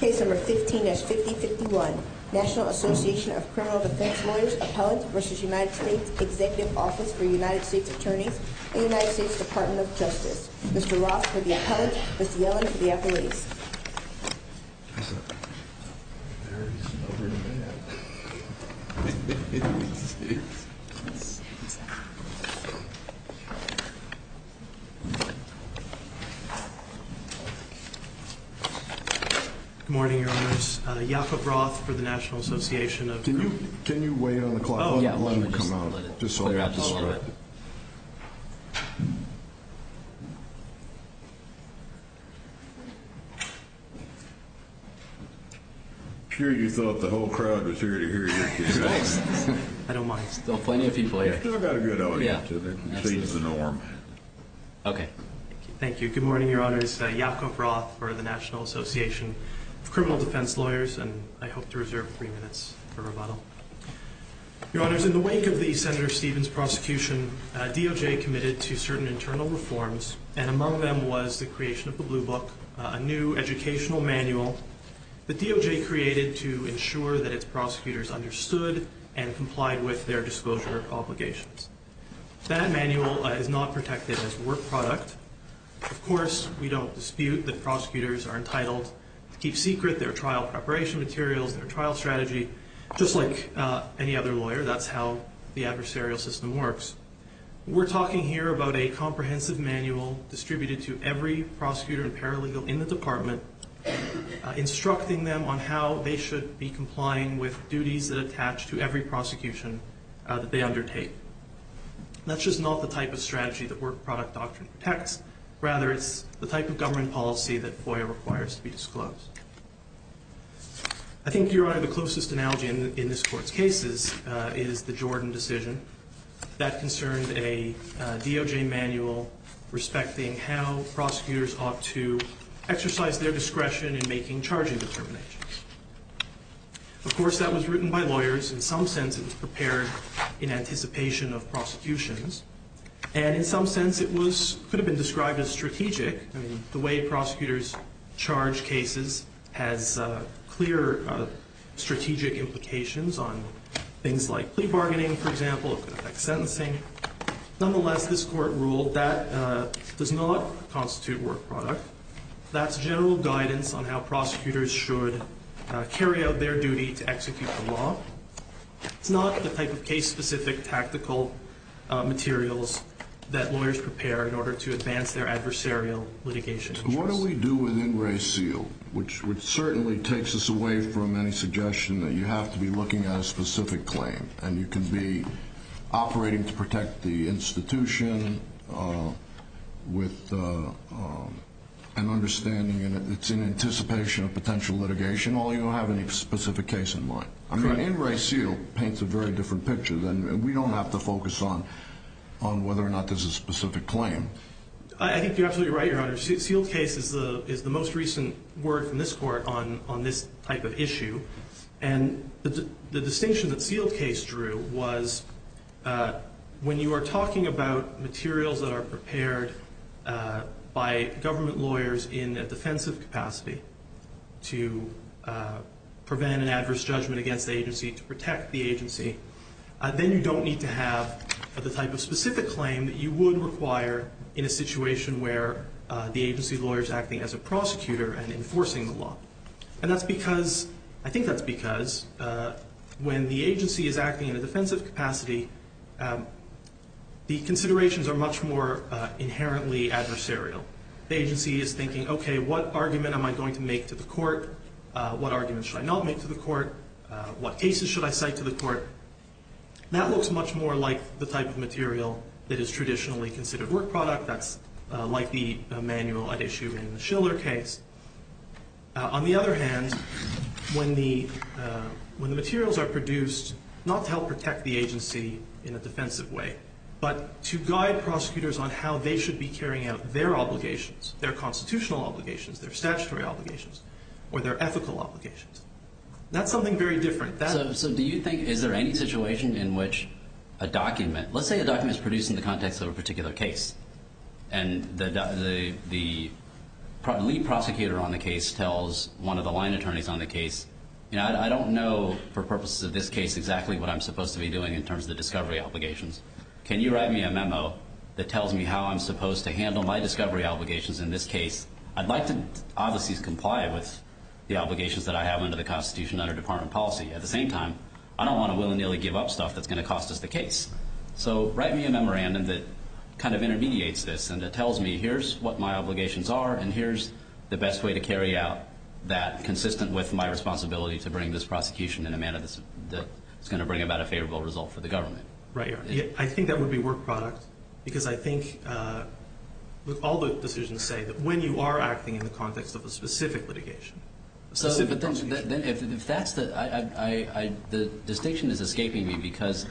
Case number 15 S 50 51 National Association of Criminal Defense Lawyers Appellant v. United States Executive Office for United States Attorneys, United States Department of Justice. Mr. Roth for the appellant, Mr. Yellen for the appellate. Good morning, your honors. Yacob Roth for the National Association of. Can you wait on the clock? Let him come out. Just so we have the script. I'm sure you thought the whole crowd was here to hear you. I don't mind. There's still plenty of people here. Still got a good audience. Okay. Thank you. Good morning, your honors. Yacob Roth for the National Association of Criminal Defense Lawyers, and I hope to reserve three minutes for rebuttal. Your honors, in the wake of the Senator Stevens prosecution, DOJ committed to certain internal reforms, and among them was the creation of the Blue Book, a new educational manual that DOJ created to ensure that its prosecutors understood and complied with their disclosure obligations. That manual is not protected as a work product. Of course, we don't dispute that prosecutors are entitled to keep secret their trial preparation materials, their trial strategy, just like any other lawyer. That's how the adversarial system works. We're talking here about a comprehensive manual distributed to every prosecutor and paralegal in the department, instructing them on how they should be complying with duties that attach to every prosecution that they undertake. That's just not the type of strategy that work product doctrine protects. Rather, it's the type of government policy that FOIA requires to be disclosed. I think, your honor, the closest analogy in this court's cases is the Jordan decision. That concerned a DOJ manual respecting how prosecutors ought to exercise their discretion in making charging determinations. Of course, that was written by lawyers. In some sense, it was prepared in anticipation of prosecutions. In some sense, it could have been described as strategic. I mean, the way prosecutors charge cases has clear strategic implications on things like plea bargaining, for example, could affect sentencing. Nonetheless, this court ruled that does not constitute work product. That's general guidance on how prosecutors should carry out their duty to execute the law. It's not the type of case-specific tactical materials that lawyers prepare in order to advance their adversarial litigation. What do we do with in re seal, which certainly takes us away from any suggestion that you have to be looking at a specific claim, and you can be operating to protect the institution with an understanding that it's in anticipation of potential litigation, only you don't have any specific case in mind. I mean, in re seal paints a very different picture. We don't have to focus on whether or not there's a specific claim. I think you're absolutely right, Your Honor. Sealed case is the most recent word from this court on this type of issue. And the distinction that sealed case drew was when you are talking about materials that are prepared by government lawyers in a defensive capacity to prevent an adverse judgment against the agency, to protect the agency, then you don't need to have the type of specific claim that you would require to protect the agency. In a situation where the agency lawyer is acting as a prosecutor and enforcing the law. And that's because, I think that's because, when the agency is acting in a defensive capacity, the considerations are much more inherently adversarial. The agency is thinking, okay, what argument am I going to make to the court? What argument should I not make to the court? What cases should I cite to the court? That looks much more like the type of material that is traditionally considered work product. That's like the manual at issue in the Schiller case. On the other hand, when the materials are produced, not to help protect the agency in a defensive way, but to guide prosecutors on how they should be carrying out their obligations, their constitutional obligations, their statutory obligations, or their ethical obligations. That's something very different. So do you think, is there any situation in which a document, let's say a document is produced in the context of a particular case, and the lead prosecutor on the case tells one of the line attorneys on the case, you know, I don't know for purposes of this case exactly what I'm supposed to be doing in terms of the discovery obligations. Can you write me a memo that tells me how I'm supposed to handle my discovery obligations in this case? I'd like to obviously comply with the obligations that I have under the Constitution under department policy. At the same time, I don't want to willy-nilly give up stuff that's going to cost us the case. So write me a memorandum that kind of intermediates this and that tells me here's what my obligations are and here's the best way to carry out that consistent with my responsibility to bring this prosecution in a manner that's going to bring about a favorable result for the government. Right. I think that would be work product because I think all the decisions say that when you are acting in the context of a specific litigation. So if that's the, the distinction is escaping me because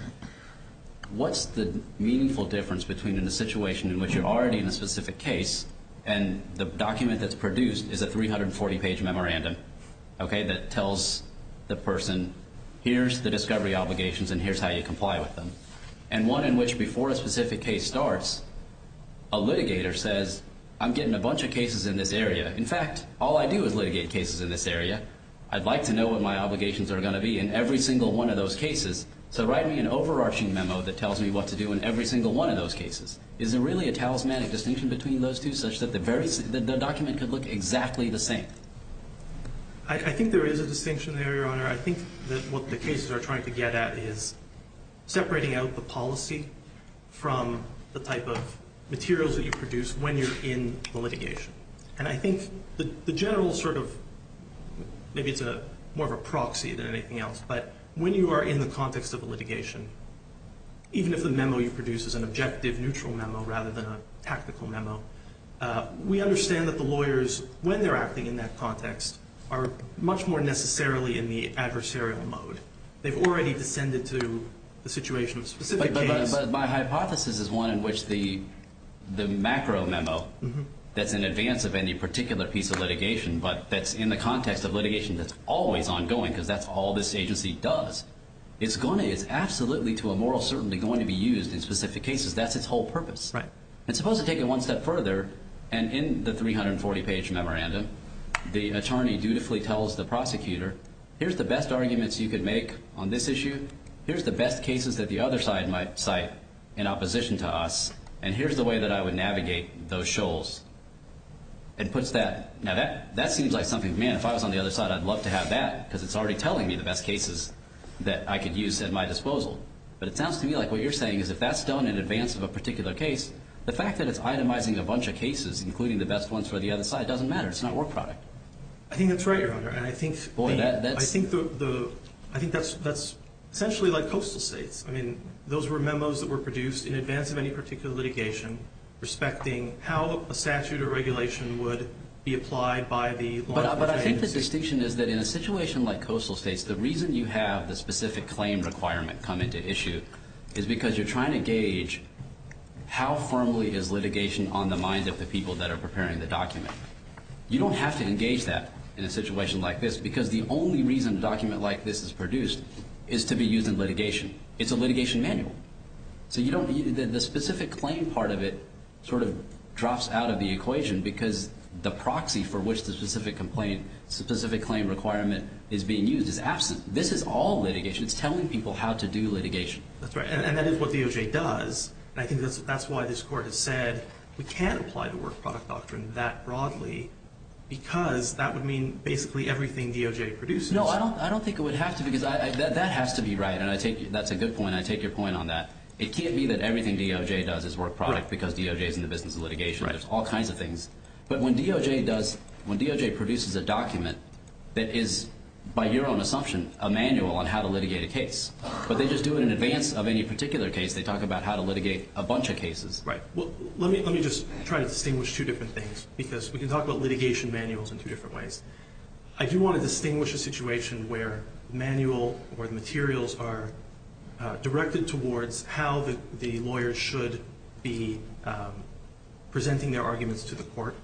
what's the meaningful difference between a situation in which you're already in a specific case and the document that's produced is a 340 page memorandum, okay, that tells the person here's the discovery obligations and here's how you comply with them. And one in which before a specific case starts, a litigator says, I'm getting a bunch of cases in this area. In fact, all I do is litigate cases in this area. I'd like to know what my obligations are going to be in every single one of those cases. So write me an overarching memo that tells me what to do in every single one of those cases. Is there really a talismanic distinction between those two such that the document could look exactly the same? I think there is a distinction there, Your Honor. I think that what the cases are trying to get at is separating out the policy from the type of materials that you produce when you're in the litigation. And I think the general sort of, maybe it's more of a proxy than anything else, but when you are in the context of a litigation, even if the memo you produce is an objective, neutral memo rather than a tactical memo, we understand that the lawyers, when they're acting in that context, are much more necessarily in the adversarial mode. They've already descended to the situation of specific cases. But my hypothesis is one in which the macro memo that's in advance of any particular piece of litigation but that's in the context of litigation that's always ongoing because that's all this agency does is absolutely to a moral certainty going to be used in specific cases. That's its whole purpose. Right. And supposed to take it one step further, and in the 340-page memorandum, the attorney dutifully tells the prosecutor, here's the best arguments you could make on this issue, here's the best cases that the other side might cite in opposition to us, and here's the way that I would navigate those shoals. It puts that, now that seems like something, man, if I was on the other side, I'd love to have that because it's already telling me the best cases that I could use at my disposal. But it sounds to me like what you're saying is if that's done in advance of a particular case, the fact that it's itemizing a bunch of cases, including the best ones for the other side, doesn't matter. It's not work product. I think that's right, Your Honor. And I think that's essentially like coastal states. I mean, those were memos that were produced in advance of any particular litigation respecting how a statute or regulation would be applied by the law enforcement agency. But I think the distinction is that in a situation like coastal states, the reason you have the specific claim requirement come into issue is because you're trying to gauge how firmly is litigation on the minds of the people that are preparing the document. You don't have to engage that in a situation like this because the only reason a document like this is produced is to be used in litigation. It's a litigation manual. So the specific claim part of it sort of drops out of the equation because the proxy for which the specific claim requirement is being used is absent. This is all litigation. It's telling people how to do litigation. That's right. And that is what DOJ does. And I think that's why this Court has said we can't apply the work product doctrine that broadly because that would mean basically everything DOJ produces. No, I don't think it would have to because that has to be right. And that's a good point, and I take your point on that. It can't be that everything DOJ does is work product because DOJ is in the business of litigation. There's all kinds of things. But when DOJ produces a document that is, by your own assumption, a manual on how to litigate a case, but they just do it in advance of any particular case. They talk about how to litigate a bunch of cases. Right. Well, let me just try to distinguish two different things because we can talk about litigation manuals in two different ways. I do want to distinguish a situation where the manual or the materials are directed towards how the lawyer should be presenting their arguments to the court,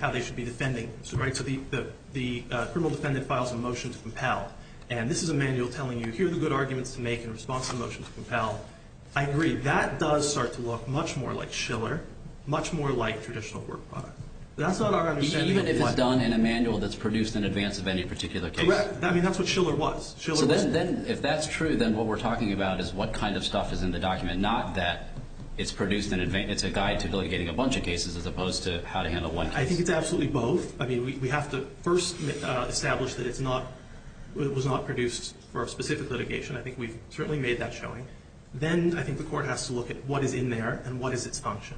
how they should be defending. Right. So the criminal defendant files a motion to compel, and this is a manual telling you, here are the good arguments to make in response to the motion to compel. I agree. That does start to look much more like Shiller, much more like traditional work product. That's not our understanding. Even if it's done in a manual that's produced in advance of any particular case. Correct. I mean, that's what Shiller was. So then if that's true, then what we're talking about is what kind of stuff is in the document, not that it's produced in advance. It's a guide to litigating a bunch of cases as opposed to how to handle one case. I think it's absolutely both. I mean, we have to first establish that it was not produced for a specific litigation. I think we've certainly made that showing. Then I think the court has to look at what is in there and what is its function.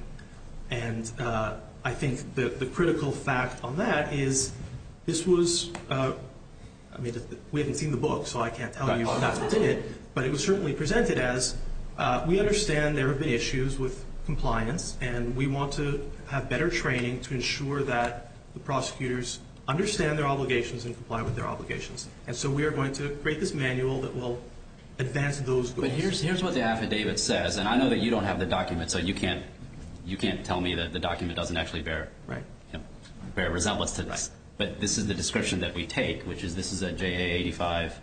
And I think the critical fact on that is this was – I mean, we haven't seen the book, so I can't tell you exactly what's in it. But it was certainly presented as we understand there have been issues with compliance, and we want to have better training to ensure that the prosecutors understand their obligations and comply with their obligations. And so we are going to create this manual that will advance those goals. But here's what the affidavit says, and I know that you don't have the document, so you can't tell me that the document doesn't actually bear resemblance to this. Right. But this is the description that we take, which is this is at JA85,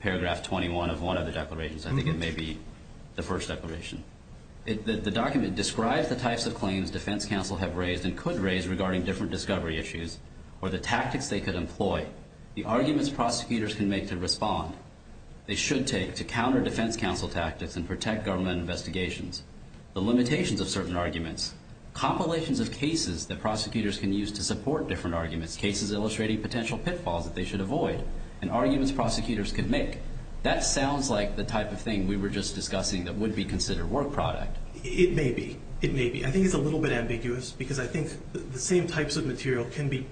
paragraph 21 of one of the declarations. I think it may be the first declaration. The document describes the types of claims defense counsel have raised and could raise regarding different discovery issues or the tactics they could employ, the arguments prosecutors can make to respond, they should take to counter defense counsel tactics and protect government investigations, the limitations of certain arguments, compilations of cases that prosecutors can use to support different arguments, cases illustrating potential pitfalls that they should avoid, and arguments prosecutors can make. That sounds like the type of thing we were just discussing that would be considered work product. It may be. It may be. I think it's a little bit ambiguous because I think the same types of material can be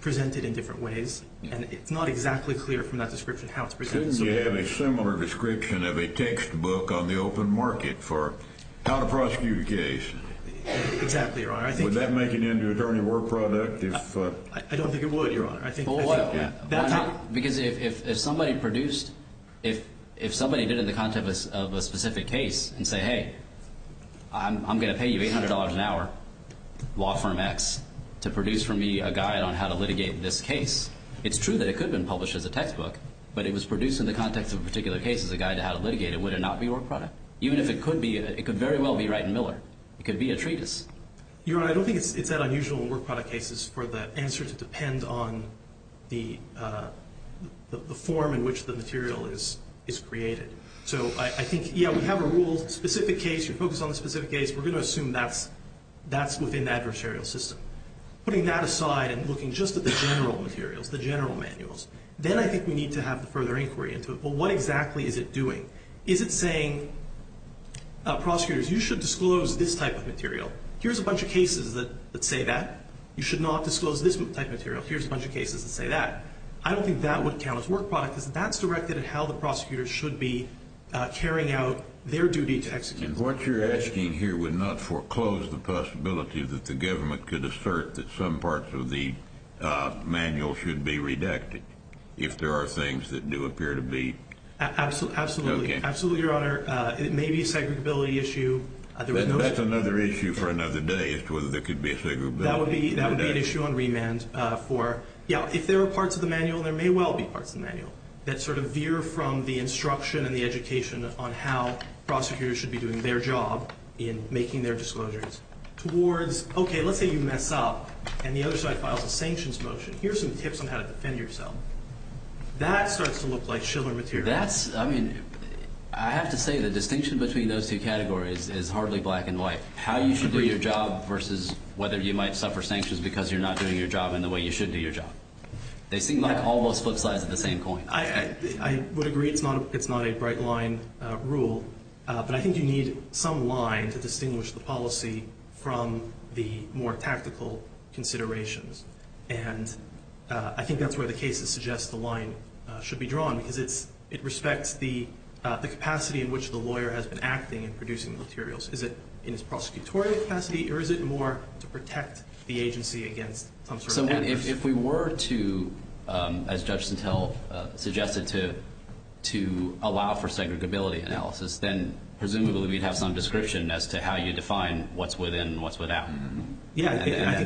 presented in different ways, and it's not exactly clear from that description how it's presented. Shouldn't you have a similar description of a textbook on the open market for how to prosecute a case? Exactly, Your Honor. Would that make it into attorney work product? I don't think it would, Your Honor. Because if somebody produced, if somebody did it in the context of a specific case and said, hey, I'm going to pay you $800 an hour, law firm X, to produce for me a guide on how to litigate this case, it's true that it could have been published as a textbook, but if it was produced in the context of a particular case as a guide to how to litigate it, would it not be work product? Even if it could be, it could very well be Wright and Miller. It could be a treatise. Your Honor, I don't think it's that unusual in work product cases for the answer to depend on the form in which the material is created. So I think, yeah, we have a rule, specific case, you're focused on the specific case, we're going to assume that's within the adversarial system. Putting that aside and looking just at the general materials, the general manuals, then I think we need to have the further inquiry into, well, what exactly is it doing? Is it saying, prosecutors, you should disclose this type of material. Here's a bunch of cases that say that. You should not disclose this type of material. Here's a bunch of cases that say that. I don't think that would count as work product because that's directed at how the prosecutors should be carrying out their duty to execute. And what you're asking here would not foreclose the possibility that the government could assert that some parts of the manual should be redacted, if there are things that do appear to be. Absolutely. Absolutely, Your Honor. It may be a segregability issue. That's another issue for another day as to whether there could be a segregability. That would be an issue on remand for, yeah, if there are parts of the manual, there may well be parts of the manual that sort of veer from the instruction and the education on how prosecutors should be doing their job in making their disclosures towards, okay, let's say you mess up and the other side files a sanctions motion. Here's some tips on how to defend yourself. That starts to look like chiller material. That's, I mean, I have to say the distinction between those two categories is hardly black and white, how you should do your job versus whether you might suffer sanctions because you're not doing your job in the way you should do your job. They seem like almost flip sides of the same coin. I would agree it's not a bright line rule, but I think you need some line to distinguish the policy from the more tactical considerations, and I think that's where the case suggests the line should be drawn because it respects the capacity in which the lawyer has been acting and producing the materials. Is it in his prosecutorial capacity or is it more to protect the agency against some sort of damage? If we were to, as Judge Sintel suggested, to allow for segregability analysis, then presumably we'd have some description as to how you define what's within and what's without, and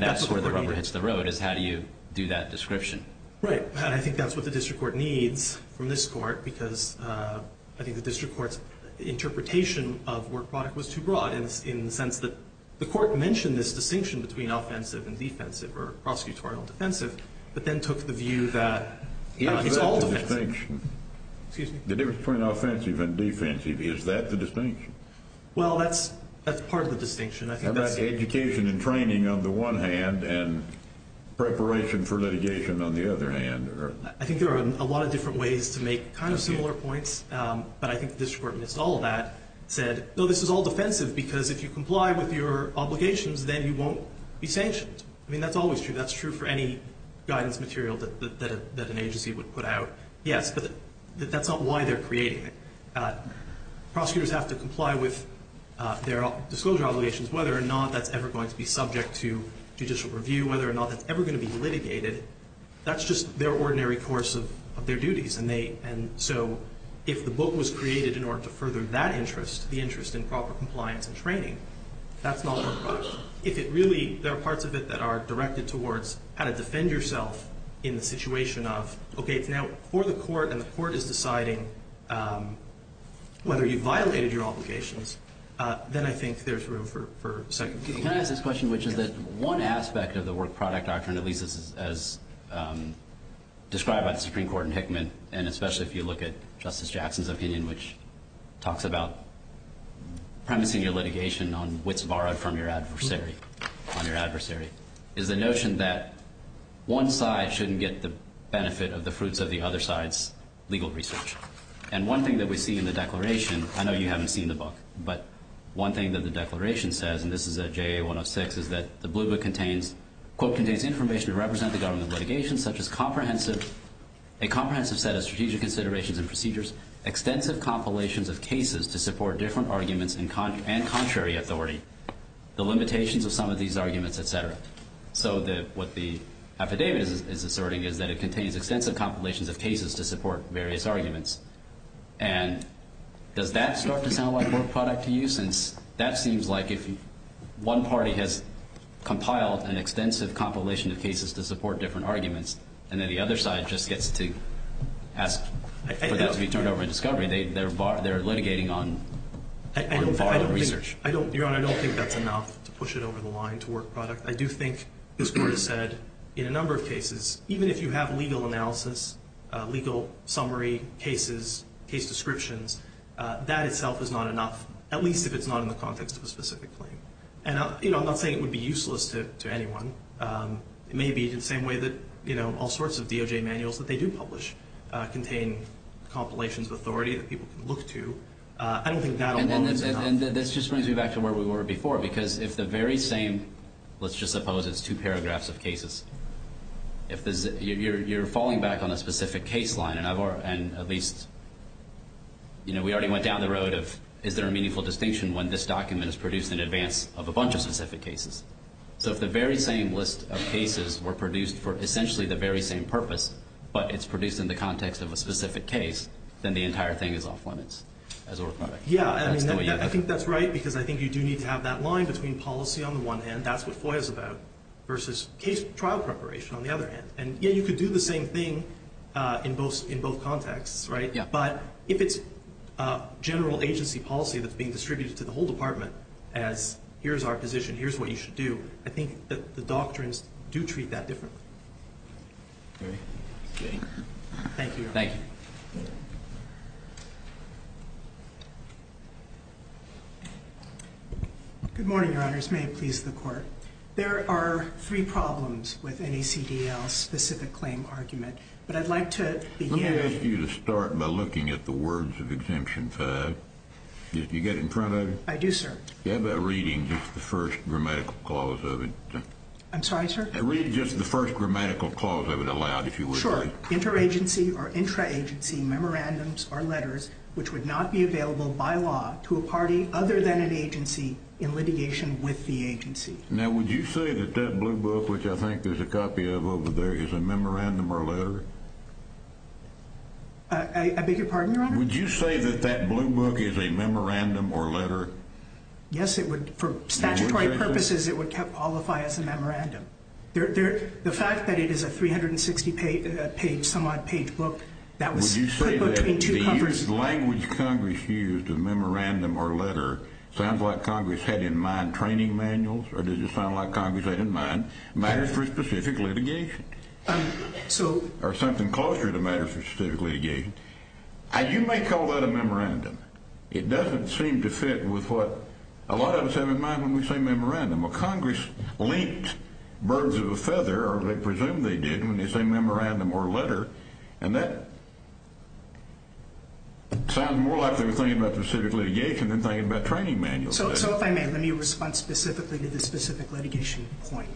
that's where the rubber hits the road is how do you do that description. Right, and I think that's what the district court needs from this court because I think the district court's interpretation of work product was too broad in the sense that the court mentioned this distinction between offensive and defensive or prosecutorial and defensive, but then took the view that it's all defensive. Is that the distinction? Excuse me? The difference between offensive and defensive, is that the distinction? Well, that's part of the distinction. Education and training on the one hand and preparation for litigation on the other hand. I think there are a lot of different ways to make kind of similar points, but I think the district court missed all of that. It said, no, this is all defensive because if you comply with your obligations, then you won't be sanctioned. I mean, that's always true. That's true for any guidance material that an agency would put out. Yes, but that's not why they're creating it. Prosecutors have to comply with their disclosure obligations, whether or not that's ever going to be subject to judicial review, whether or not that's ever going to be litigated. That's just their ordinary course of their duties. So if the book was created in order to further that interest, the interest in proper compliance and training, that's not a work product. If it really, there are parts of it that are directed towards how to defend yourself in the situation of, okay, it's now for the court and the court is deciding whether you violated your obligations, then I think there's room for second opinion. Can I ask this question, which is that one aspect of the work product doctrine, at least as described by the Supreme Court in Hickman, and especially if you look at Justice Jackson's opinion, which talks about premising your litigation on wits borrowed from your adversary, is the notion that one side shouldn't get the benefit of the fruits of the other side's legal research. And one thing that we see in the declaration, I know you haven't seen the book, but one thing that the declaration says, and this is at JA 106, is that the blue book contains, quote, contains information to represent the government of litigation, such as a comprehensive set of strategic considerations and procedures, extensive compilations of cases to support different arguments and contrary authority, the limitations of some of these arguments, et cetera. So what the affidavit is asserting is that it contains extensive compilations of cases to support various arguments. And does that start to sound like a work product to you? Since that seems like if one party has compiled an extensive compilation of cases to support different arguments and then the other side just gets to ask for that to be turned over in discovery, they're litigating on borrowed research. Your Honor, I don't think that's enough to push it over the line to work product. I do think this Court has said in a number of cases, even if you have legal analysis, legal summary cases, case descriptions, that itself is not enough, at least if it's not in the context of a specific claim. And, you know, I'm not saying it would be useless to anyone. It may be the same way that, you know, all sorts of DOJ manuals that they do publish contain compilations of authority that people can look to. I don't think that alone is enough. And this just brings me back to where we were before, because if the very same, let's just suppose it's two paragraphs of cases, if you're falling back on a specific case line, and at least, you know, we already went down the road of is there a meaningful distinction when this document is produced in advance of a bunch of specific cases? So if the very same list of cases were produced for essentially the very same purpose, but it's produced in the context of a specific case, then the entire thing is off limits as a work product. Yeah, I think that's right, because I think you do need to have that line between policy on the one hand, that's what FOIA is about, versus trial preparation on the other hand. And, yeah, you could do the same thing in both contexts, right? Yeah. But if it's general agency policy that's being distributed to the whole department as here's our position, here's what you should do, I think that the doctrines do treat that differently. Okay. Thank you, Your Honor. Thank you. Good morning, Your Honors. May it please the Court. There are three problems with NACDL's specific claim argument, but I'd like to begin. Let me ask you to start by looking at the words of Exemption 5. Do you get it in front of you? I do, sir. Yeah, but reading just the first grammatical clause of it. I'm sorry, sir? Read just the first grammatical clause of it aloud, if you would, please. Sure. Interagency or intraagency memorandums or letters which would not be available by law to a party other than an agency in litigation with the agency. Now, would you say that that blue book, which I think there's a copy of over there, is a memorandum or a letter? I beg your pardon, Your Honor? Would you say that that blue book is a memorandum or a letter? Yes, it would. For statutory purposes, it would qualify as a memorandum. The fact that it is a 360-page, some-odd-page book, that was put between two covers. Does the language Congress used, a memorandum or a letter, sound like Congress had in mind training manuals? Or does it sound like Congress had in mind matters for specific litigation? Or something closer to matters for specific litigation? You may call that a memorandum. It doesn't seem to fit with what a lot of us have in mind when we say memorandum. Congress linked birds of a feather, or they presume they did, when they say memorandum or letter. And that sounds more like they were thinking about specific litigation than thinking about training manuals. So if I may, let me respond specifically to the specific litigation point.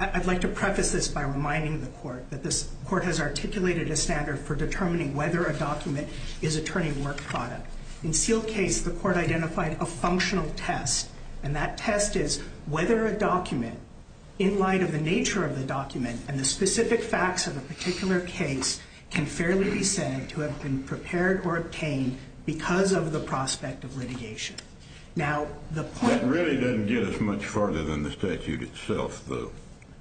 I'd like to preface this by reminding the court that this court has articulated a standard for determining whether a document is attorney work product. In Seale's case, the court identified a functional test. And that test is whether a document, in light of the nature of the document and the specific facts of a particular case, can fairly be said to have been prepared or obtained because of the prospect of litigation. Now, the point- That really doesn't get us much farther than the statute itself, though.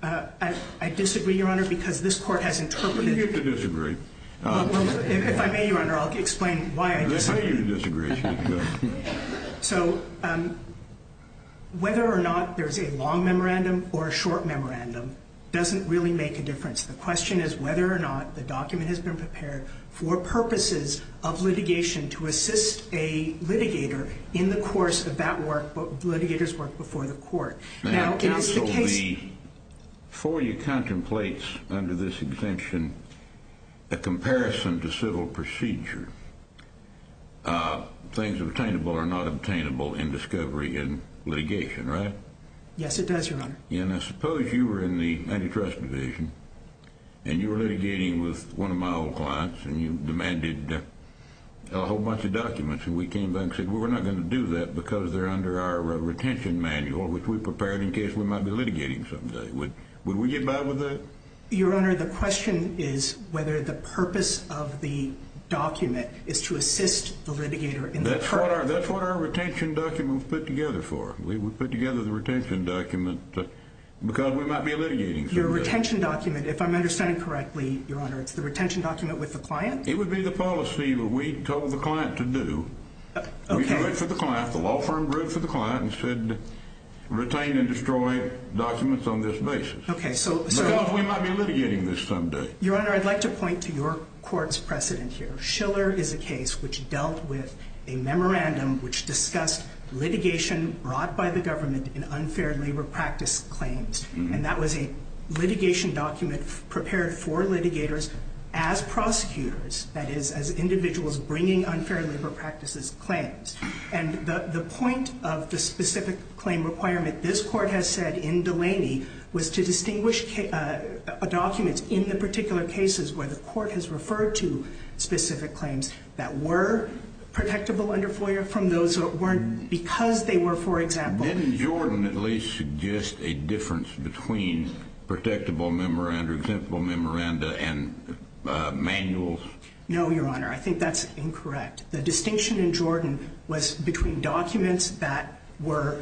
I disagree, Your Honor, because this court has interpreted- You get to disagree. If I may, Your Honor, I'll explain why I disagree. Let me hear your disagreement. So whether or not there's a long memorandum or a short memorandum doesn't really make a difference. The question is whether or not the document has been prepared for purposes of litigation to assist a litigator in the course of that work, the litigator's work before the court. Now, if the case- Under this exemption, a comparison to civil procedure, things obtainable are not obtainable in discovery and litigation, right? Yes, it does, Your Honor. And I suppose you were in the antitrust division, and you were litigating with one of my old clients, and you demanded a whole bunch of documents. And we came back and said, well, we're not going to do that because they're under our retention manual, which we prepared in case we might be litigating someday. Would we get by with that? Your Honor, the question is whether the purpose of the document is to assist the litigator in- That's what our retention document was put together for. We put together the retention document because we might be litigating someday. Your retention document, if I'm understanding correctly, Your Honor, it's the retention document with the client? It would be the policy that we told the client to do. Okay. We do it for the client. The law firm wrote for the client and said, retain and destroy documents on this basis. Okay, so- We might be litigating this someday. Your Honor, I'd like to point to your court's precedent here. Schiller is a case which dealt with a memorandum which discussed litigation brought by the government in unfair labor practice claims. And that was a litigation document prepared for litigators as prosecutors, that is, as individuals bringing unfair labor practices claims. And the point of the specific claim requirement this court has said in Delaney was to distinguish documents in the particular cases where the court has referred to specific claims that were protectable under FOIA from those that weren't because they were, for example- Didn't Jordan at least suggest a difference between protectable memoranda, exemptable memoranda, and manuals? No, Your Honor. I think that's incorrect. The distinction in Jordan was between documents that were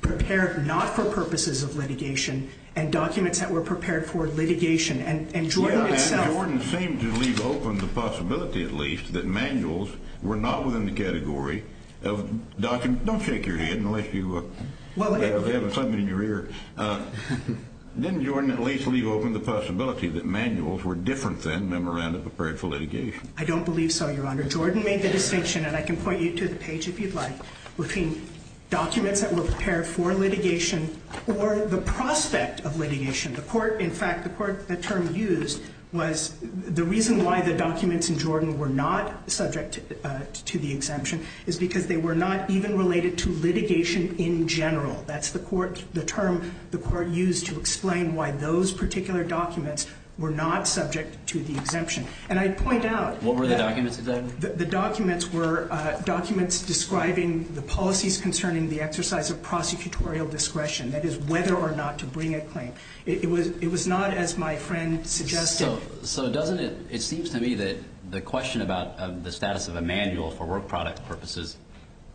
prepared not for purposes of litigation and documents that were prepared for litigation. And Jordan itself- Yeah, and Jordan seemed to leave open the possibility, at least, that manuals were not within the category of docu- Don't shake your head unless you have something in your ear. Didn't Jordan at least leave open the possibility that manuals were different than memoranda prepared for litigation? I don't believe so, Your Honor. Jordan made the distinction, and I can point you to the page if you'd like, between documents that were prepared for litigation or the prospect of litigation. The court- In fact, the court- The term used was- The reason why the documents in Jordan were not subject to the exemption is because they were not even related to litigation in general. That's the court- The term the court used to explain why those particular documents were not subject to the exemption. And I'd point out- What were the documents exactly? The documents were documents describing the policies concerning the exercise of prosecutorial discretion, that is, whether or not to bring a claim. It was not, as my friend suggested- So doesn't it- It seems to me that the question about the status of a manual for work product purposes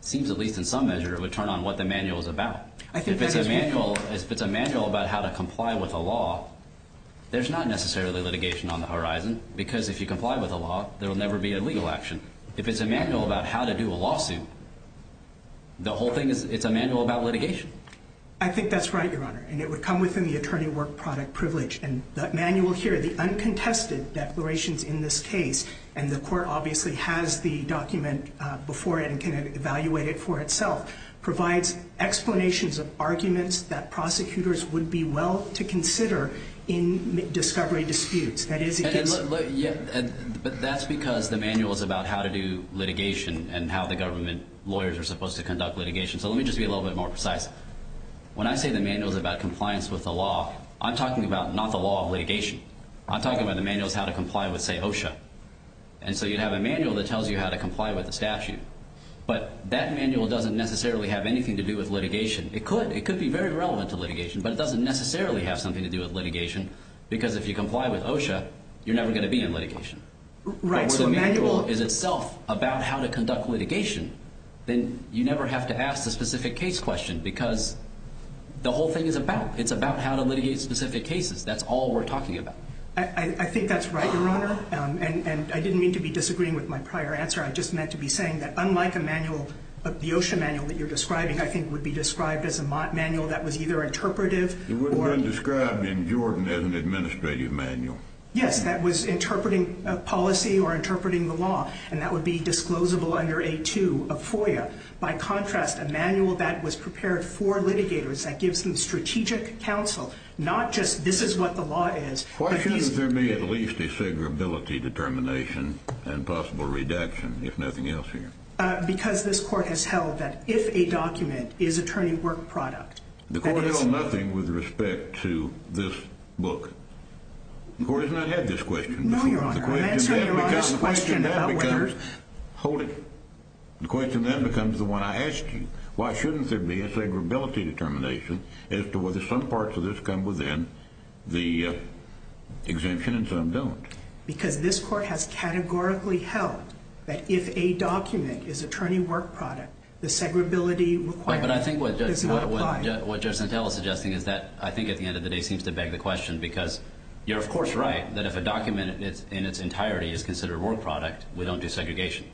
seems, at least in some measure, to turn on what the manual is about. I think that is correct. If it's a manual about how to comply with a law, there's not necessarily litigation on the horizon, because if you comply with a law, there will never be a legal action. If it's a manual about how to do a lawsuit, the whole thing is- It's a manual about litigation. I think that's right, Your Honor, and it would come within the attorney work product privilege. And the manual here, the uncontested declarations in this case, and the court obviously has the document before it and can evaluate it for itself, provides explanations of arguments that prosecutors would be well to consider in discovery disputes. That is- But that's because the manual is about how to do litigation and how the government lawyers are supposed to conduct litigation. So let me just be a little bit more precise. When I say the manual is about compliance with the law, I'm talking about not the law of litigation. I'm talking about the manual is how to comply with, say, OSHA. And so you'd have a manual that tells you how to comply with the statute, but that manual doesn't necessarily have anything to do with litigation. It could. It could be very relevant to litigation, but it doesn't necessarily have something to do with litigation, because if you comply with OSHA, you're never going to be in litigation. Right. So if the manual is itself about how to conduct litigation, then you never have to ask the specific case question, because the whole thing is about it. It's about how to litigate specific cases. That's all we're talking about. I think that's right, Your Honor. And I didn't mean to be disagreeing with my prior answer. I just meant to be saying that unlike a manual, the OSHA manual that you're describing I think would be described as a manual that was either interpretive or- It would have been described in Jordan as an administrative manual. Yes, that was interpreting policy or interpreting the law, and that would be disclosable under A2 of FOIA. By contrast, a manual that was prepared for litigators, that gives them strategic counsel, not just this is what the law is. Why shouldn't there be at least a segregability determination and possible redaction, if nothing else here? Because this Court has held that if a document is attorney work product- The Court held nothing with respect to this book. The Court has not had this question before. No, Your Honor. I'm answering Your Honor's question about whether- The question then becomes the one I asked you. Why shouldn't there be a segregability determination as to whether some parts of this come within the exemption and some don't? Because this Court has categorically held that if a document is attorney work product, the segregability requirement does not apply. But I think what Judge Santel is suggesting is that I think at the end of the day seems to beg the question, because you're of course right that if a document in its entirety is considered work product, we don't do segregation.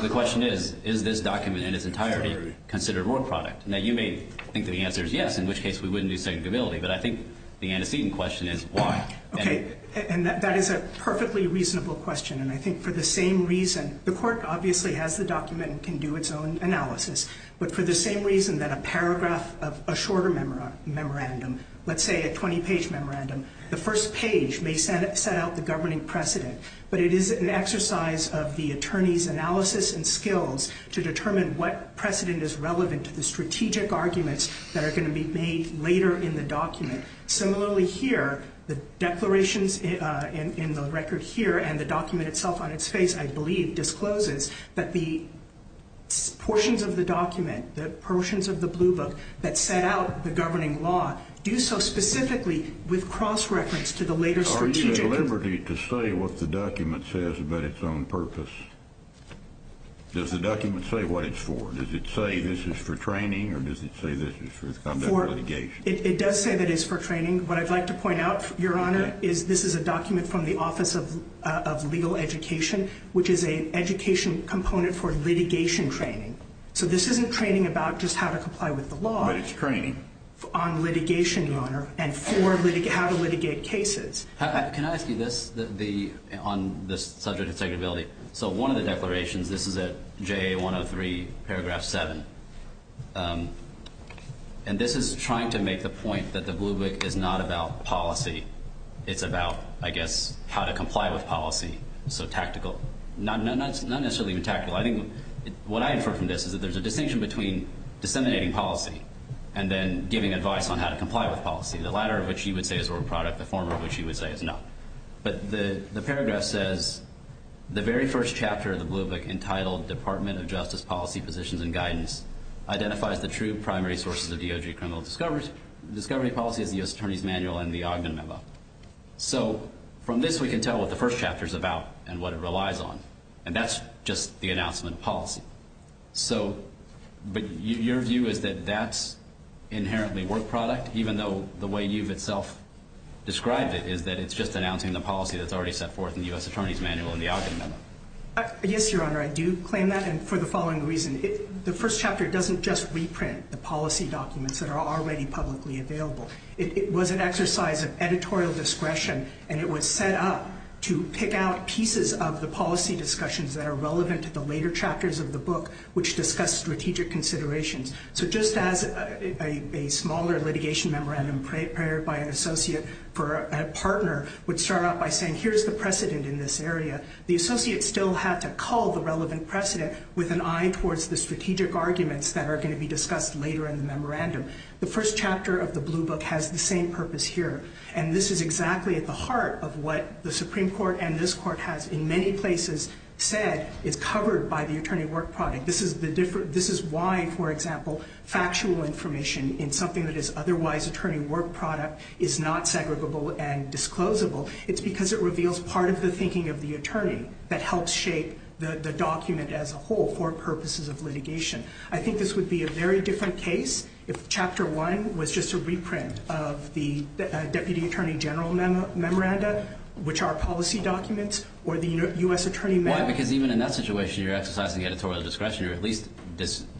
The question is, is this document in its entirety considered work product? Now, you may think that the answer is yes, in which case we wouldn't do segregability, but I think the antecedent question is why? Okay, and that is a perfectly reasonable question, and I think for the same reason- The Court obviously has the document and can do its own analysis, but for the same reason that a paragraph of a shorter memorandum, let's say a 20-page memorandum, the first page may set out the governing precedent, but it is an exercise of the attorney's analysis and skills to determine what precedent is relevant to the strategic arguments that are going to be made later in the document. Similarly here, the declarations in the record here and the document itself on its face, I believe, discloses that the portions of the document, the portions of the blue book that set out the governing law, do so specifically with cross-reference to the later strategic- Are you at liberty to say what the document says about its own purpose? Does the document say what it's for? Does it say this is for training, or does it say this is for conduct litigation? It does say that it's for training. What I'd like to point out, Your Honor, is this is a document from the Office of Legal Education, which is an education component for litigation training. So this isn't training about just how to comply with the law- But it's training. On litigation, Your Honor, and how to litigate cases. Can I ask you this on this subject of segregability? So one of the declarations, this is at JA 103, paragraph 7, and this is trying to make the point that the blue book is not about policy. It's about, I guess, how to comply with policy, so tactical. Not necessarily even tactical. I think what I infer from this is that there's a distinction between disseminating policy and then giving advice on how to comply with policy, the latter of which you would say is a work product, the former of which you would say is not. But the paragraph says, The very first chapter of the blue book, entitled, Department of Justice Policy Positions and Guidance, identifies the true primary sources of DOJ criminal discovery policy as the U.S. Attorney's Manual and the Ogden Memo. So from this we can tell what the first chapter is about and what it relies on, and that's just the announcement of policy. But your view is that that's inherently work product, even though the way you've itself described it is that it's just announcing the policy that's already set forth in the U.S. Attorney's Manual and the Ogden Memo. Yes, Your Honor, I do claim that, and for the following reason. The first chapter doesn't just reprint the policy documents that are already publicly available. It was an exercise of editorial discretion, and it was set up to pick out pieces of the policy discussions that are relevant to the later chapters of the book, which discuss strategic considerations. So just as a smaller litigation memorandum prepared by an associate for a partner would start out by saying here's the precedent in this area, the associate still had to call the relevant precedent with an eye towards the strategic arguments that are going to be discussed later in the memorandum. The first chapter of the blue book has the same purpose here, and this is exactly at the heart of what the Supreme Court and this Court has in many places said is covered by the attorney work product. This is why, for example, factual information in something that is otherwise attorney work product is not segregable and disclosable. It's because it reveals part of the thinking of the attorney that helps shape the document as a whole for purposes of litigation. I think this would be a very different case if Chapter 1 was just a reprint of the Deputy Attorney General Memoranda, which are policy documents, or the U.S. Attorney Manual. Why? Because even in that situation you're exercising editorial discretion, or at least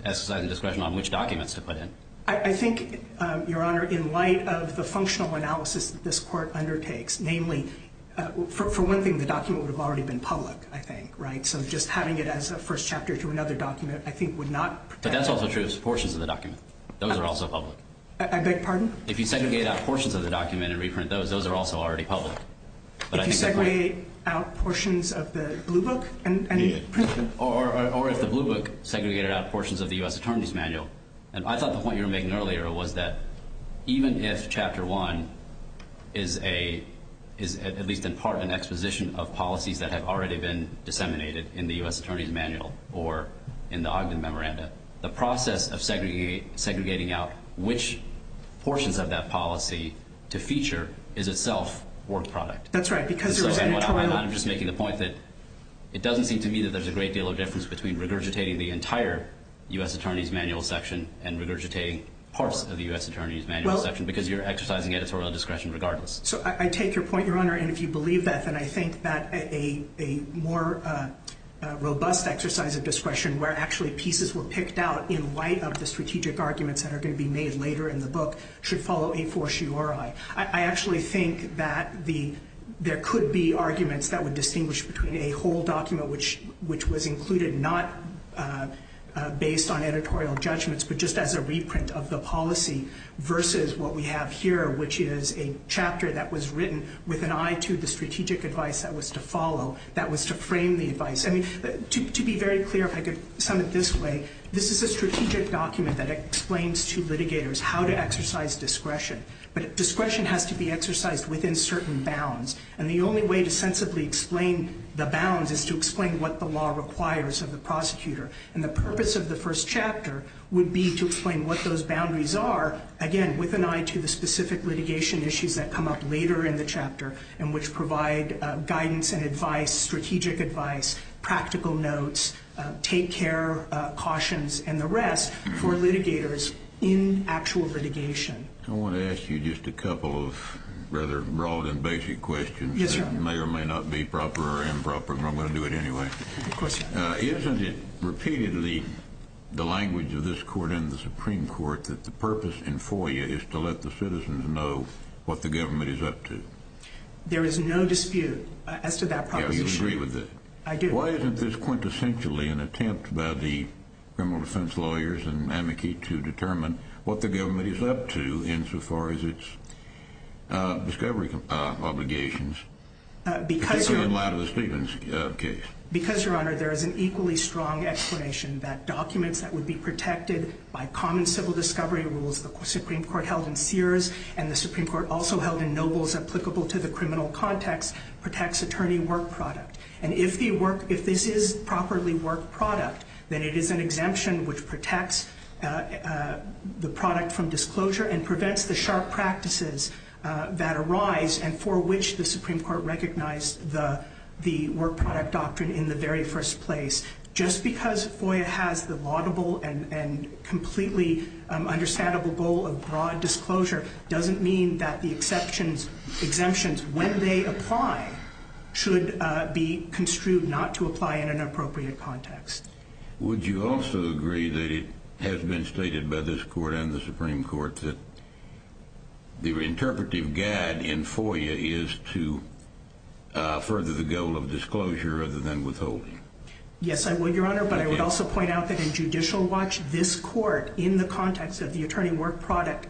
exercising discretion on which documents to put in. I think, Your Honor, in light of the functional analysis that this Court undertakes, namely, for one thing the document would have already been public, I think, right? So just having it as a first chapter to another document I think would not protect it. But that's also true of portions of the document. Those are also public. I beg pardon? If you segregate out portions of the document and reprint those, those are also already public. If you segregate out portions of the blue book? Or if the blue book segregated out portions of the U.S. Attorney's Manual, and I thought the point you were making earlier was that even if Chapter 1 is at least in part an exposition of policies that have already been disseminated in the U.S. Attorney's Manual or in the Ogden Memoranda, the process of segregating out which portions of that policy to feature is itself work product. That's right, because there was any trial. I'm just making the point that it doesn't seem to me that there's a great deal of difference between regurgitating the entire U.S. Attorney's Manual section and regurgitating parts of the U.S. Attorney's Manual section because you're exercising editorial discretion regardless. So I take your point, Your Honor. And if you believe that, then I think that a more robust exercise of discretion where actually pieces were picked out in light of the strategic arguments that are going to be made later in the book should follow a fortiori. I actually think that there could be arguments that would distinguish between a whole document which was included not based on editorial judgments but just as a reprint of the policy versus what we have here, which is a chapter that was written with an eye to the strategic advice that was to follow, that was to frame the advice. To be very clear, if I could sum it this way, this is a strategic document that explains to litigators how to exercise discretion, but discretion has to be exercised within certain bounds. And the only way to sensibly explain the bounds is to explain what the law requires of the prosecutor. And the purpose of the first chapter would be to explain what those boundaries are, again, with an eye to the specific litigation issues that come up later in the chapter and which provide guidance and advice, strategic advice, practical notes, take-care cautions, and the rest for litigators in actual litigation. I want to ask you just a couple of rather broad and basic questions that may or may not be proper or improper, but I'm going to do it anyway. Isn't it repeatedly the language of this Court and the Supreme Court that the purpose in FOIA is to let the citizens know what the government is up to? There is no dispute as to that proposition. You agree with it? I do. Why isn't this quintessentially an attempt by the criminal defense lawyers and amici to determine what the government is up to insofar as its discovery obligations, particularly in light of the Stevens case? Because, Your Honor, there is an equally strong explanation that documents that would be protected by common civil discovery rules the Supreme Court held in Sears and the Supreme Court also held in Nobles applicable to the criminal context protects attorney work product. And if this is properly work product, then it is an exemption which protects the product from disclosure and prevents the sharp practices that arise and for which the Supreme Court recognized the work product doctrine in the very first place. Just because FOIA has the laudable and completely understandable goal of broad disclosure doesn't mean that the exemptions, when they apply, should be construed not to apply in an appropriate context. Would you also agree that it has been stated by this court and the Supreme Court that the interpretive guide in FOIA is to further the goal of disclosure rather than withholding? Yes, I would, Your Honor, but I would also point out that in Judicial Watch, this court, in the context of the attorney work product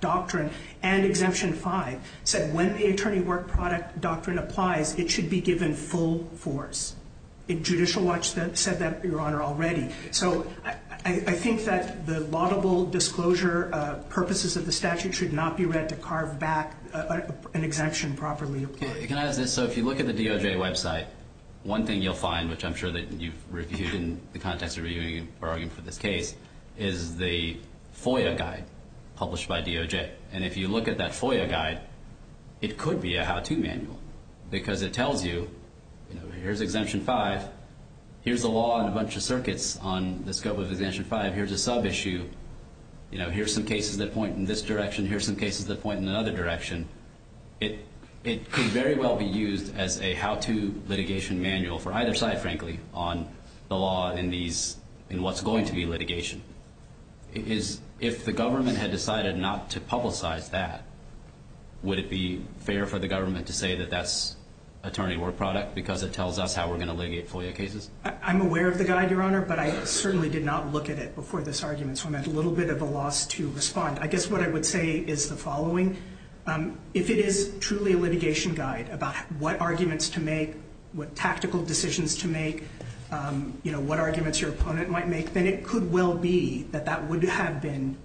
doctrine and Exemption 5, said when the attorney work product doctrine applies, it should be given full force. Judicial Watch said that, Your Honor, already. So I think that the laudable disclosure purposes of the statute should not be read to carve back an exemption properly applied. Can I ask this? So if you look at the DOJ website, one thing you'll find, which I'm sure that you've reviewed in the context of reviewing your argument for this case, is the FOIA guide published by DOJ. And if you look at that FOIA guide, it could be a how-to manual because it tells you, here's Exemption 5, here's the law and a bunch of circuits on the scope of Exemption 5, here's a sub-issue, here's some cases that point in this direction, here's some cases that point in another direction. It could very well be used as a how-to litigation manual for either side, frankly, on the law in what's going to be litigation. If the government had decided not to publicize that, would it be fair for the government to say that that's attorney work product because it tells us how we're going to litigate FOIA cases? I'm aware of the guide, Your Honor, but I certainly did not look at it before this argument, so I'm at a little bit of a loss to respond. I guess what I would say is the following. If it is truly a litigation guide about what arguments to make, what tactical decisions to make, what arguments your opponent might make, then it could well be that that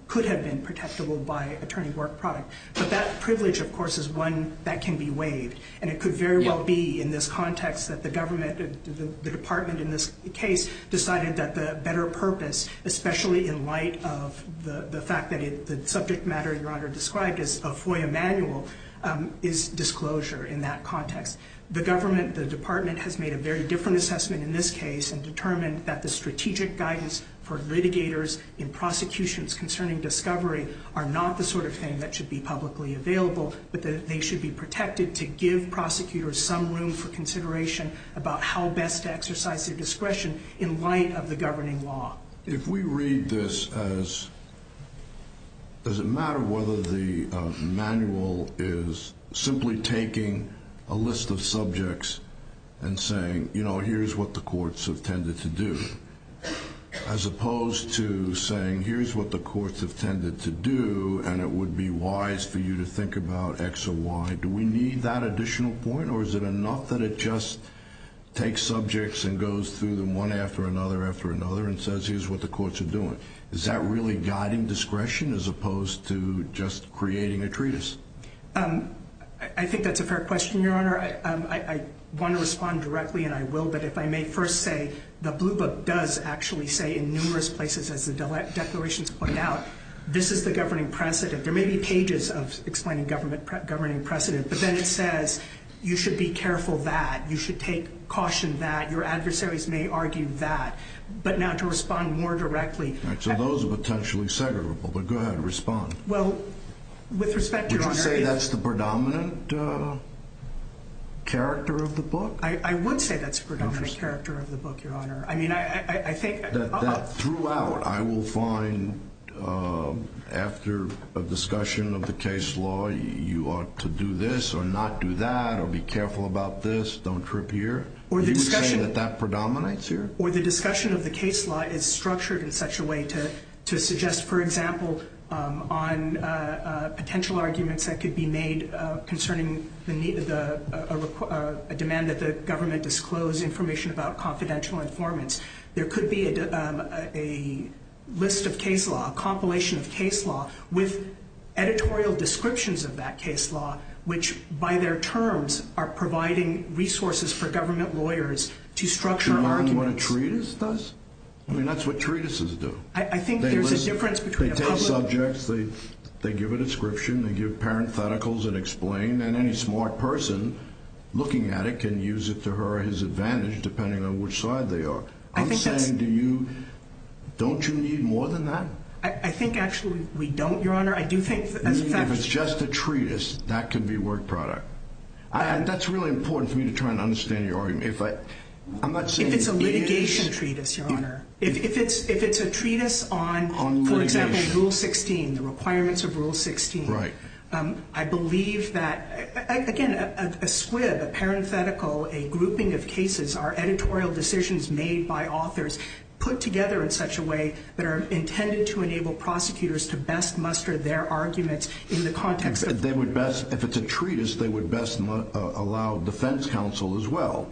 could have been protectable by attorney work product. But that privilege, of course, is one that can be waived, and it could very well be in this context that the government, the department in this case, decided that the better purpose, especially in light of the fact that the subject matter, Your Honor described as a FOIA manual, is disclosure in that context. The government, the department, has made a very different assessment in this case and determined that the strategic guidance for litigators in prosecutions concerning discovery are not the sort of thing that should be publicly available, but that they should be protected to give prosecutors some room for consideration about how best to exercise their discretion in light of the governing law. If we read this as does it matter whether the manual is simply taking a list of subjects and saying, you know, here's what the courts have tended to do, as opposed to saying here's what the courts have tended to do and it would be wise for you to think about X or Y. Do we need that additional point or is it enough that it just takes subjects and goes through them one after another after another and says here's what the courts are doing? Is that really guiding discretion as opposed to just creating a treatise? I think that's a fair question, Your Honor. Your Honor, I want to respond directly and I will, but if I may first say the Blue Book does actually say in numerous places, as the declarations point out, this is the governing precedent. There may be pages explaining governing precedent, but then it says you should be careful that, you should take caution that, your adversaries may argue that, but now to respond more directly. So those are potentially segregable, but go ahead and respond. Well, with respect, Your Honor, Would you say that's the predominant character of the book? I would say that's the predominant character of the book, Your Honor. I mean, I think That throughout I will find after a discussion of the case law, you ought to do this or not do that or be careful about this, don't trip here. You would say that that predominates here? Or the discussion of the case law is structured in such a way to suggest, for example, on potential arguments that could be made concerning a demand that the government disclose information about confidential informants. There could be a list of case law, a compilation of case law, with editorial descriptions of that case law, which by their terms are providing resources for government lawyers to structure arguments. To learn what a treatise does? I mean, that's what treatises do. I think there's a difference between a public They take subjects, they give a description, they give parentheticals and explain, and any smart person looking at it can use it to her or his advantage, depending on which side they are. I think that's I'm saying to you, don't you need more than that? I think actually we don't, Your Honor. I do think as a fact You mean if it's just a treatise, that could be work product? That's really important for me to try and understand your argument. I'm not saying it is If it's a litigation treatise, Your Honor. If it's a treatise on, for example, Rule 16, the requirements of Rule 16, I believe that, again, a SWIB, a parenthetical, a grouping of cases are editorial decisions made by authors put together in such a way that are intended to enable prosecutors to best muster their arguments in the context of If it's a treatise, they would best allow defense counsel as well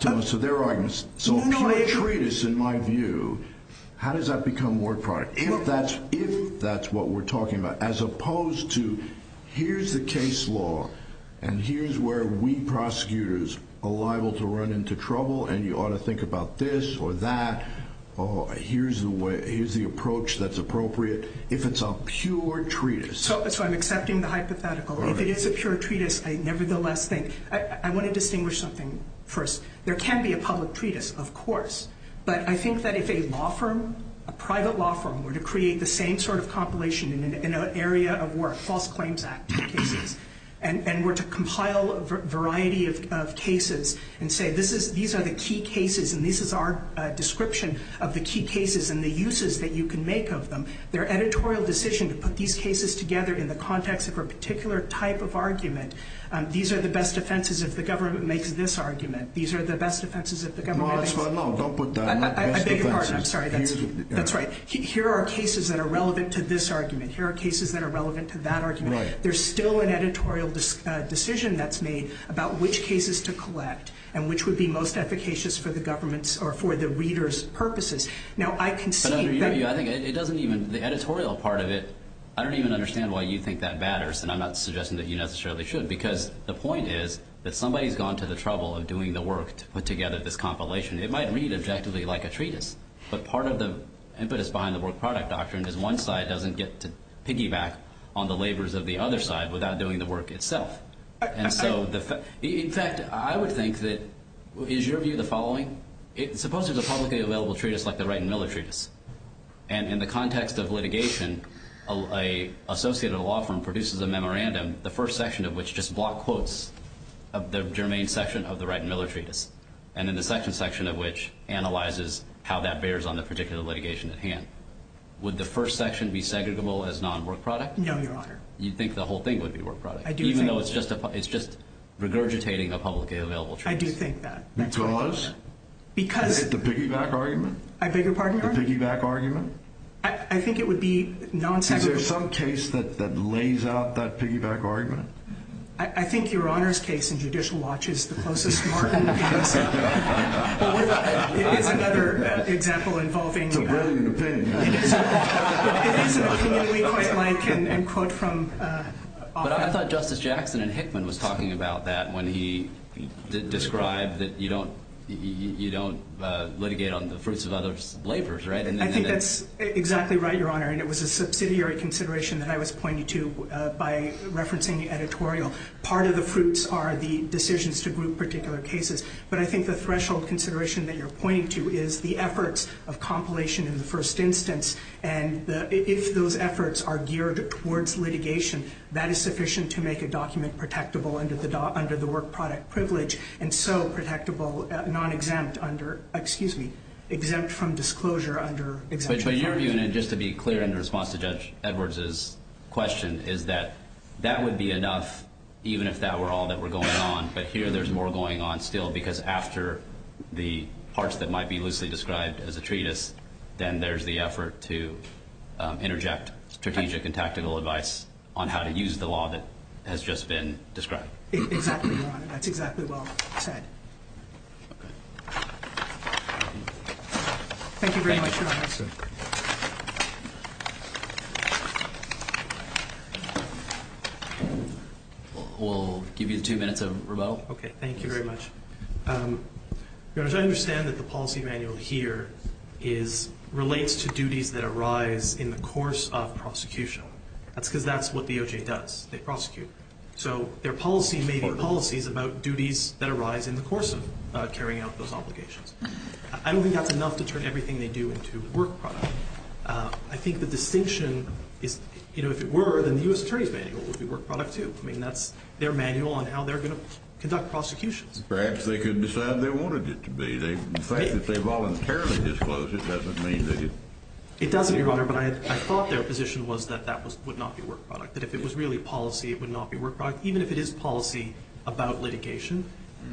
to muster their arguments. So a pure treatise, in my view, how does that become work product? If that's what we're talking about, as opposed to here's the case law and here's where we prosecutors are liable to run into trouble and you ought to think about this or that, here's the approach that's appropriate if it's a pure treatise. So I'm accepting the hypothetical. If it is a pure treatise, I nevertheless think I want to distinguish something first. There can be a public treatise, of course, but I think that if a law firm, a private law firm, were to create the same sort of compilation in an area of work, false claims act cases, and were to compile a variety of cases and say these are the key cases and this is our description of the key cases and the uses that you can make of them, their editorial decision to put these cases together in the context of a particular type of argument, these are the best offenses if the government makes this argument, these are the best offenses if the government makes this argument. No, don't put that. I beg your pardon. I'm sorry. That's right. Here are cases that are relevant to this argument. Here are cases that are relevant to that argument. There's still an editorial decision that's made about which cases to collect and which would be most efficacious for the government's or for the reader's purposes. Now I can see that. I think it doesn't even, the editorial part of it, I don't even understand why you think that matters and I'm not suggesting that you necessarily should because the point is that somebody's gone to the trouble of doing the work to put together this compilation. It might read objectively like a treatise, but part of the impetus behind the work product doctrine is one side doesn't get to piggyback on the labors of the other side without doing the work itself. In fact, I would think that, is your view the following? Suppose there's a publicly available treatise like the Wright and Miller treatise, and in the context of litigation, an associated law firm produces a memorandum, and the first section of which just block quotes of the germane section of the Wright and Miller treatise, and then the second section of which analyzes how that bears on the particular litigation at hand. Would the first section be segregable as non-work product? No, Your Honor. You think the whole thing would be work product? I do think that. Even though it's just regurgitating a publicly available treatise? I do think that. Because? Because. Is it the piggyback argument? I beg your pardon, Your Honor? The piggyback argument? I think it would be non-segregable. Is there some case that lays out that piggyback argument? I think Your Honor's case in Judicial Watch is the closest one. It is another example involving... It's a brilliant opinion. It is an opinion we quite like and quote from... But I thought Justice Jackson in Hickman was talking about that when he described that you don't litigate on the fruits of others' labors, right? I think that's exactly right, Your Honor. And it was a subsidiary consideration that I was pointing to by referencing the editorial. Part of the fruits are the decisions to group particular cases. But I think the threshold consideration that you're pointing to is the efforts of compilation in the first instance. And if those efforts are geared towards litigation, that is sufficient to make a document protectable under the work product privilege and so protectable non-exempt under... Excuse me. Exempt from disclosure under... But your view, and just to be clear in response to Judge Edwards' question, is that that would be enough even if that were all that were going on. But here there's more going on still because after the parts that might be loosely described as a treatise, then there's the effort to interject strategic and tactical advice on how to use the law that has just been described. Exactly, Your Honor. That's exactly well said. Thank you very much, Your Honor. We'll give you two minutes of rebuttal. Okay. Thank you very much. Your Honor, I understand that the policy manual here relates to duties that arise in the course of prosecution. That's because that's what the OJ does. They prosecute. So their policy may be policies about duties that arise in the course of carrying out those obligations. I don't think that's enough to turn everything they do into work product. I think the distinction is, you know, if it were, then the U.S. Attorney's Manual would be work product too. I mean, that's their manual on how they're going to conduct prosecutions. Perhaps they could decide they wanted it to be. The fact that they voluntarily disclosed it doesn't mean that it... It doesn't, Your Honor, but I thought their position was that that would not be work product, that if it was really policy, it would not be work product, even if it is policy about litigation.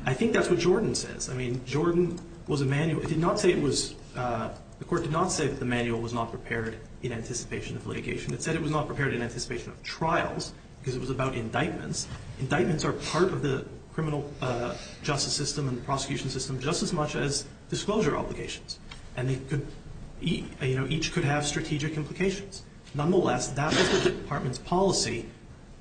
I think that's what Jordan says. I mean, Jordan was a manual... It did not say it was... The Court did not say that the manual was not prepared in anticipation of litigation. It said it was not prepared in anticipation of trials because it was about indictments. Indictments are part of the criminal justice system and the prosecution system just as much as disclosure obligations. And they could... You know, each could have strategic implications. Nonetheless, that is the Department's policy,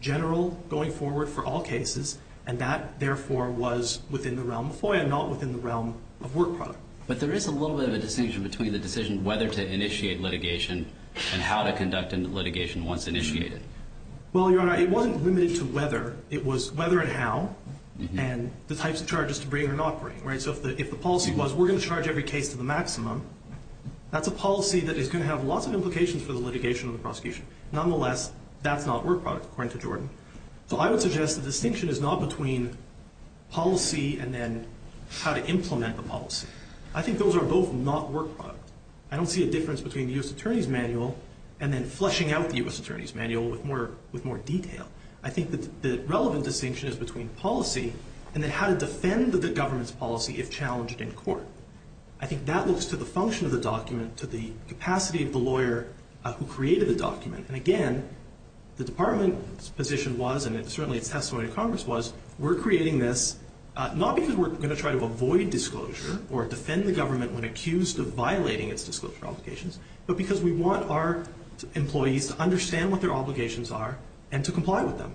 general going forward for all cases, and that, therefore, was within the realm of FOIA, not within the realm of work product. But there is a little bit of a distinction between the decision whether to initiate litigation and how to conduct a litigation once initiated. Well, Your Honor, it wasn't limited to whether. It was whether and how and the types of charges to bring or not bring, right? So if the policy was we're going to charge every case to the maximum, that's a policy that is going to have lots of implications for the litigation of the prosecution. Nonetheless, that's not work product, according to Jordan. So I would suggest the distinction is not between policy and then how to implement the policy. I think those are both not work product. I don't see a difference between the U.S. Attorney's Manual and then fleshing out the U.S. Attorney's Manual with more detail. I think the relevant distinction is between policy and then how to defend the government's policy if challenged in court. I think that looks to the function of the document, to the capacity of the lawyer who created the document. And again, the Department's position was, and certainly its testimony to Congress was, we're creating this not because we're going to try to avoid disclosure or defend the government when accused of violating its disclosure obligations, but because we want our employees to understand what their obligations are and to comply with them.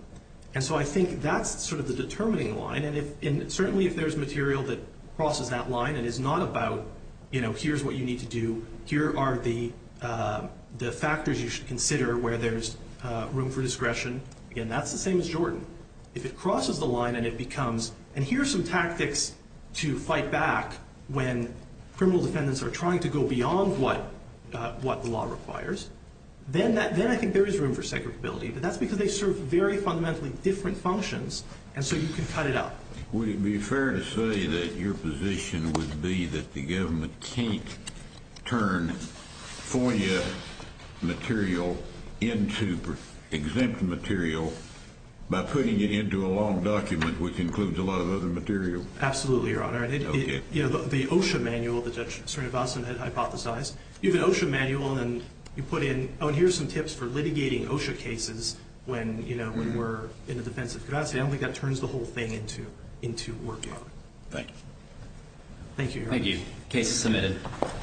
And so I think that's sort of the determining line. And certainly if there's material that crosses that line and is not about, you know, here's what you need to do, here are the factors you should consider where there's room for discretion, again, that's the same as Jordan. If it crosses the line and it becomes, and here are some tactics to fight back when criminal defendants are trying to go beyond what the law requires, then I think there is room for segregability. But that's because they serve very fundamentally different functions, and so you can cut it out. Would it be fair to say that your position would be that the government can't turn FOIA material into exempt material by putting it into a long document which includes a lot of other material? Absolutely, Your Honor. Okay. You know, the OSHA manual that Judge Srinivasan had hypothesized, you have an OSHA manual and then you put in, oh, and here's some tips for litigating OSHA cases when, you know, when we're in the defense of Curacao. I don't think that turns the whole thing into work. Thank you. Thank you, Your Honor. Thank you. Case is submitted.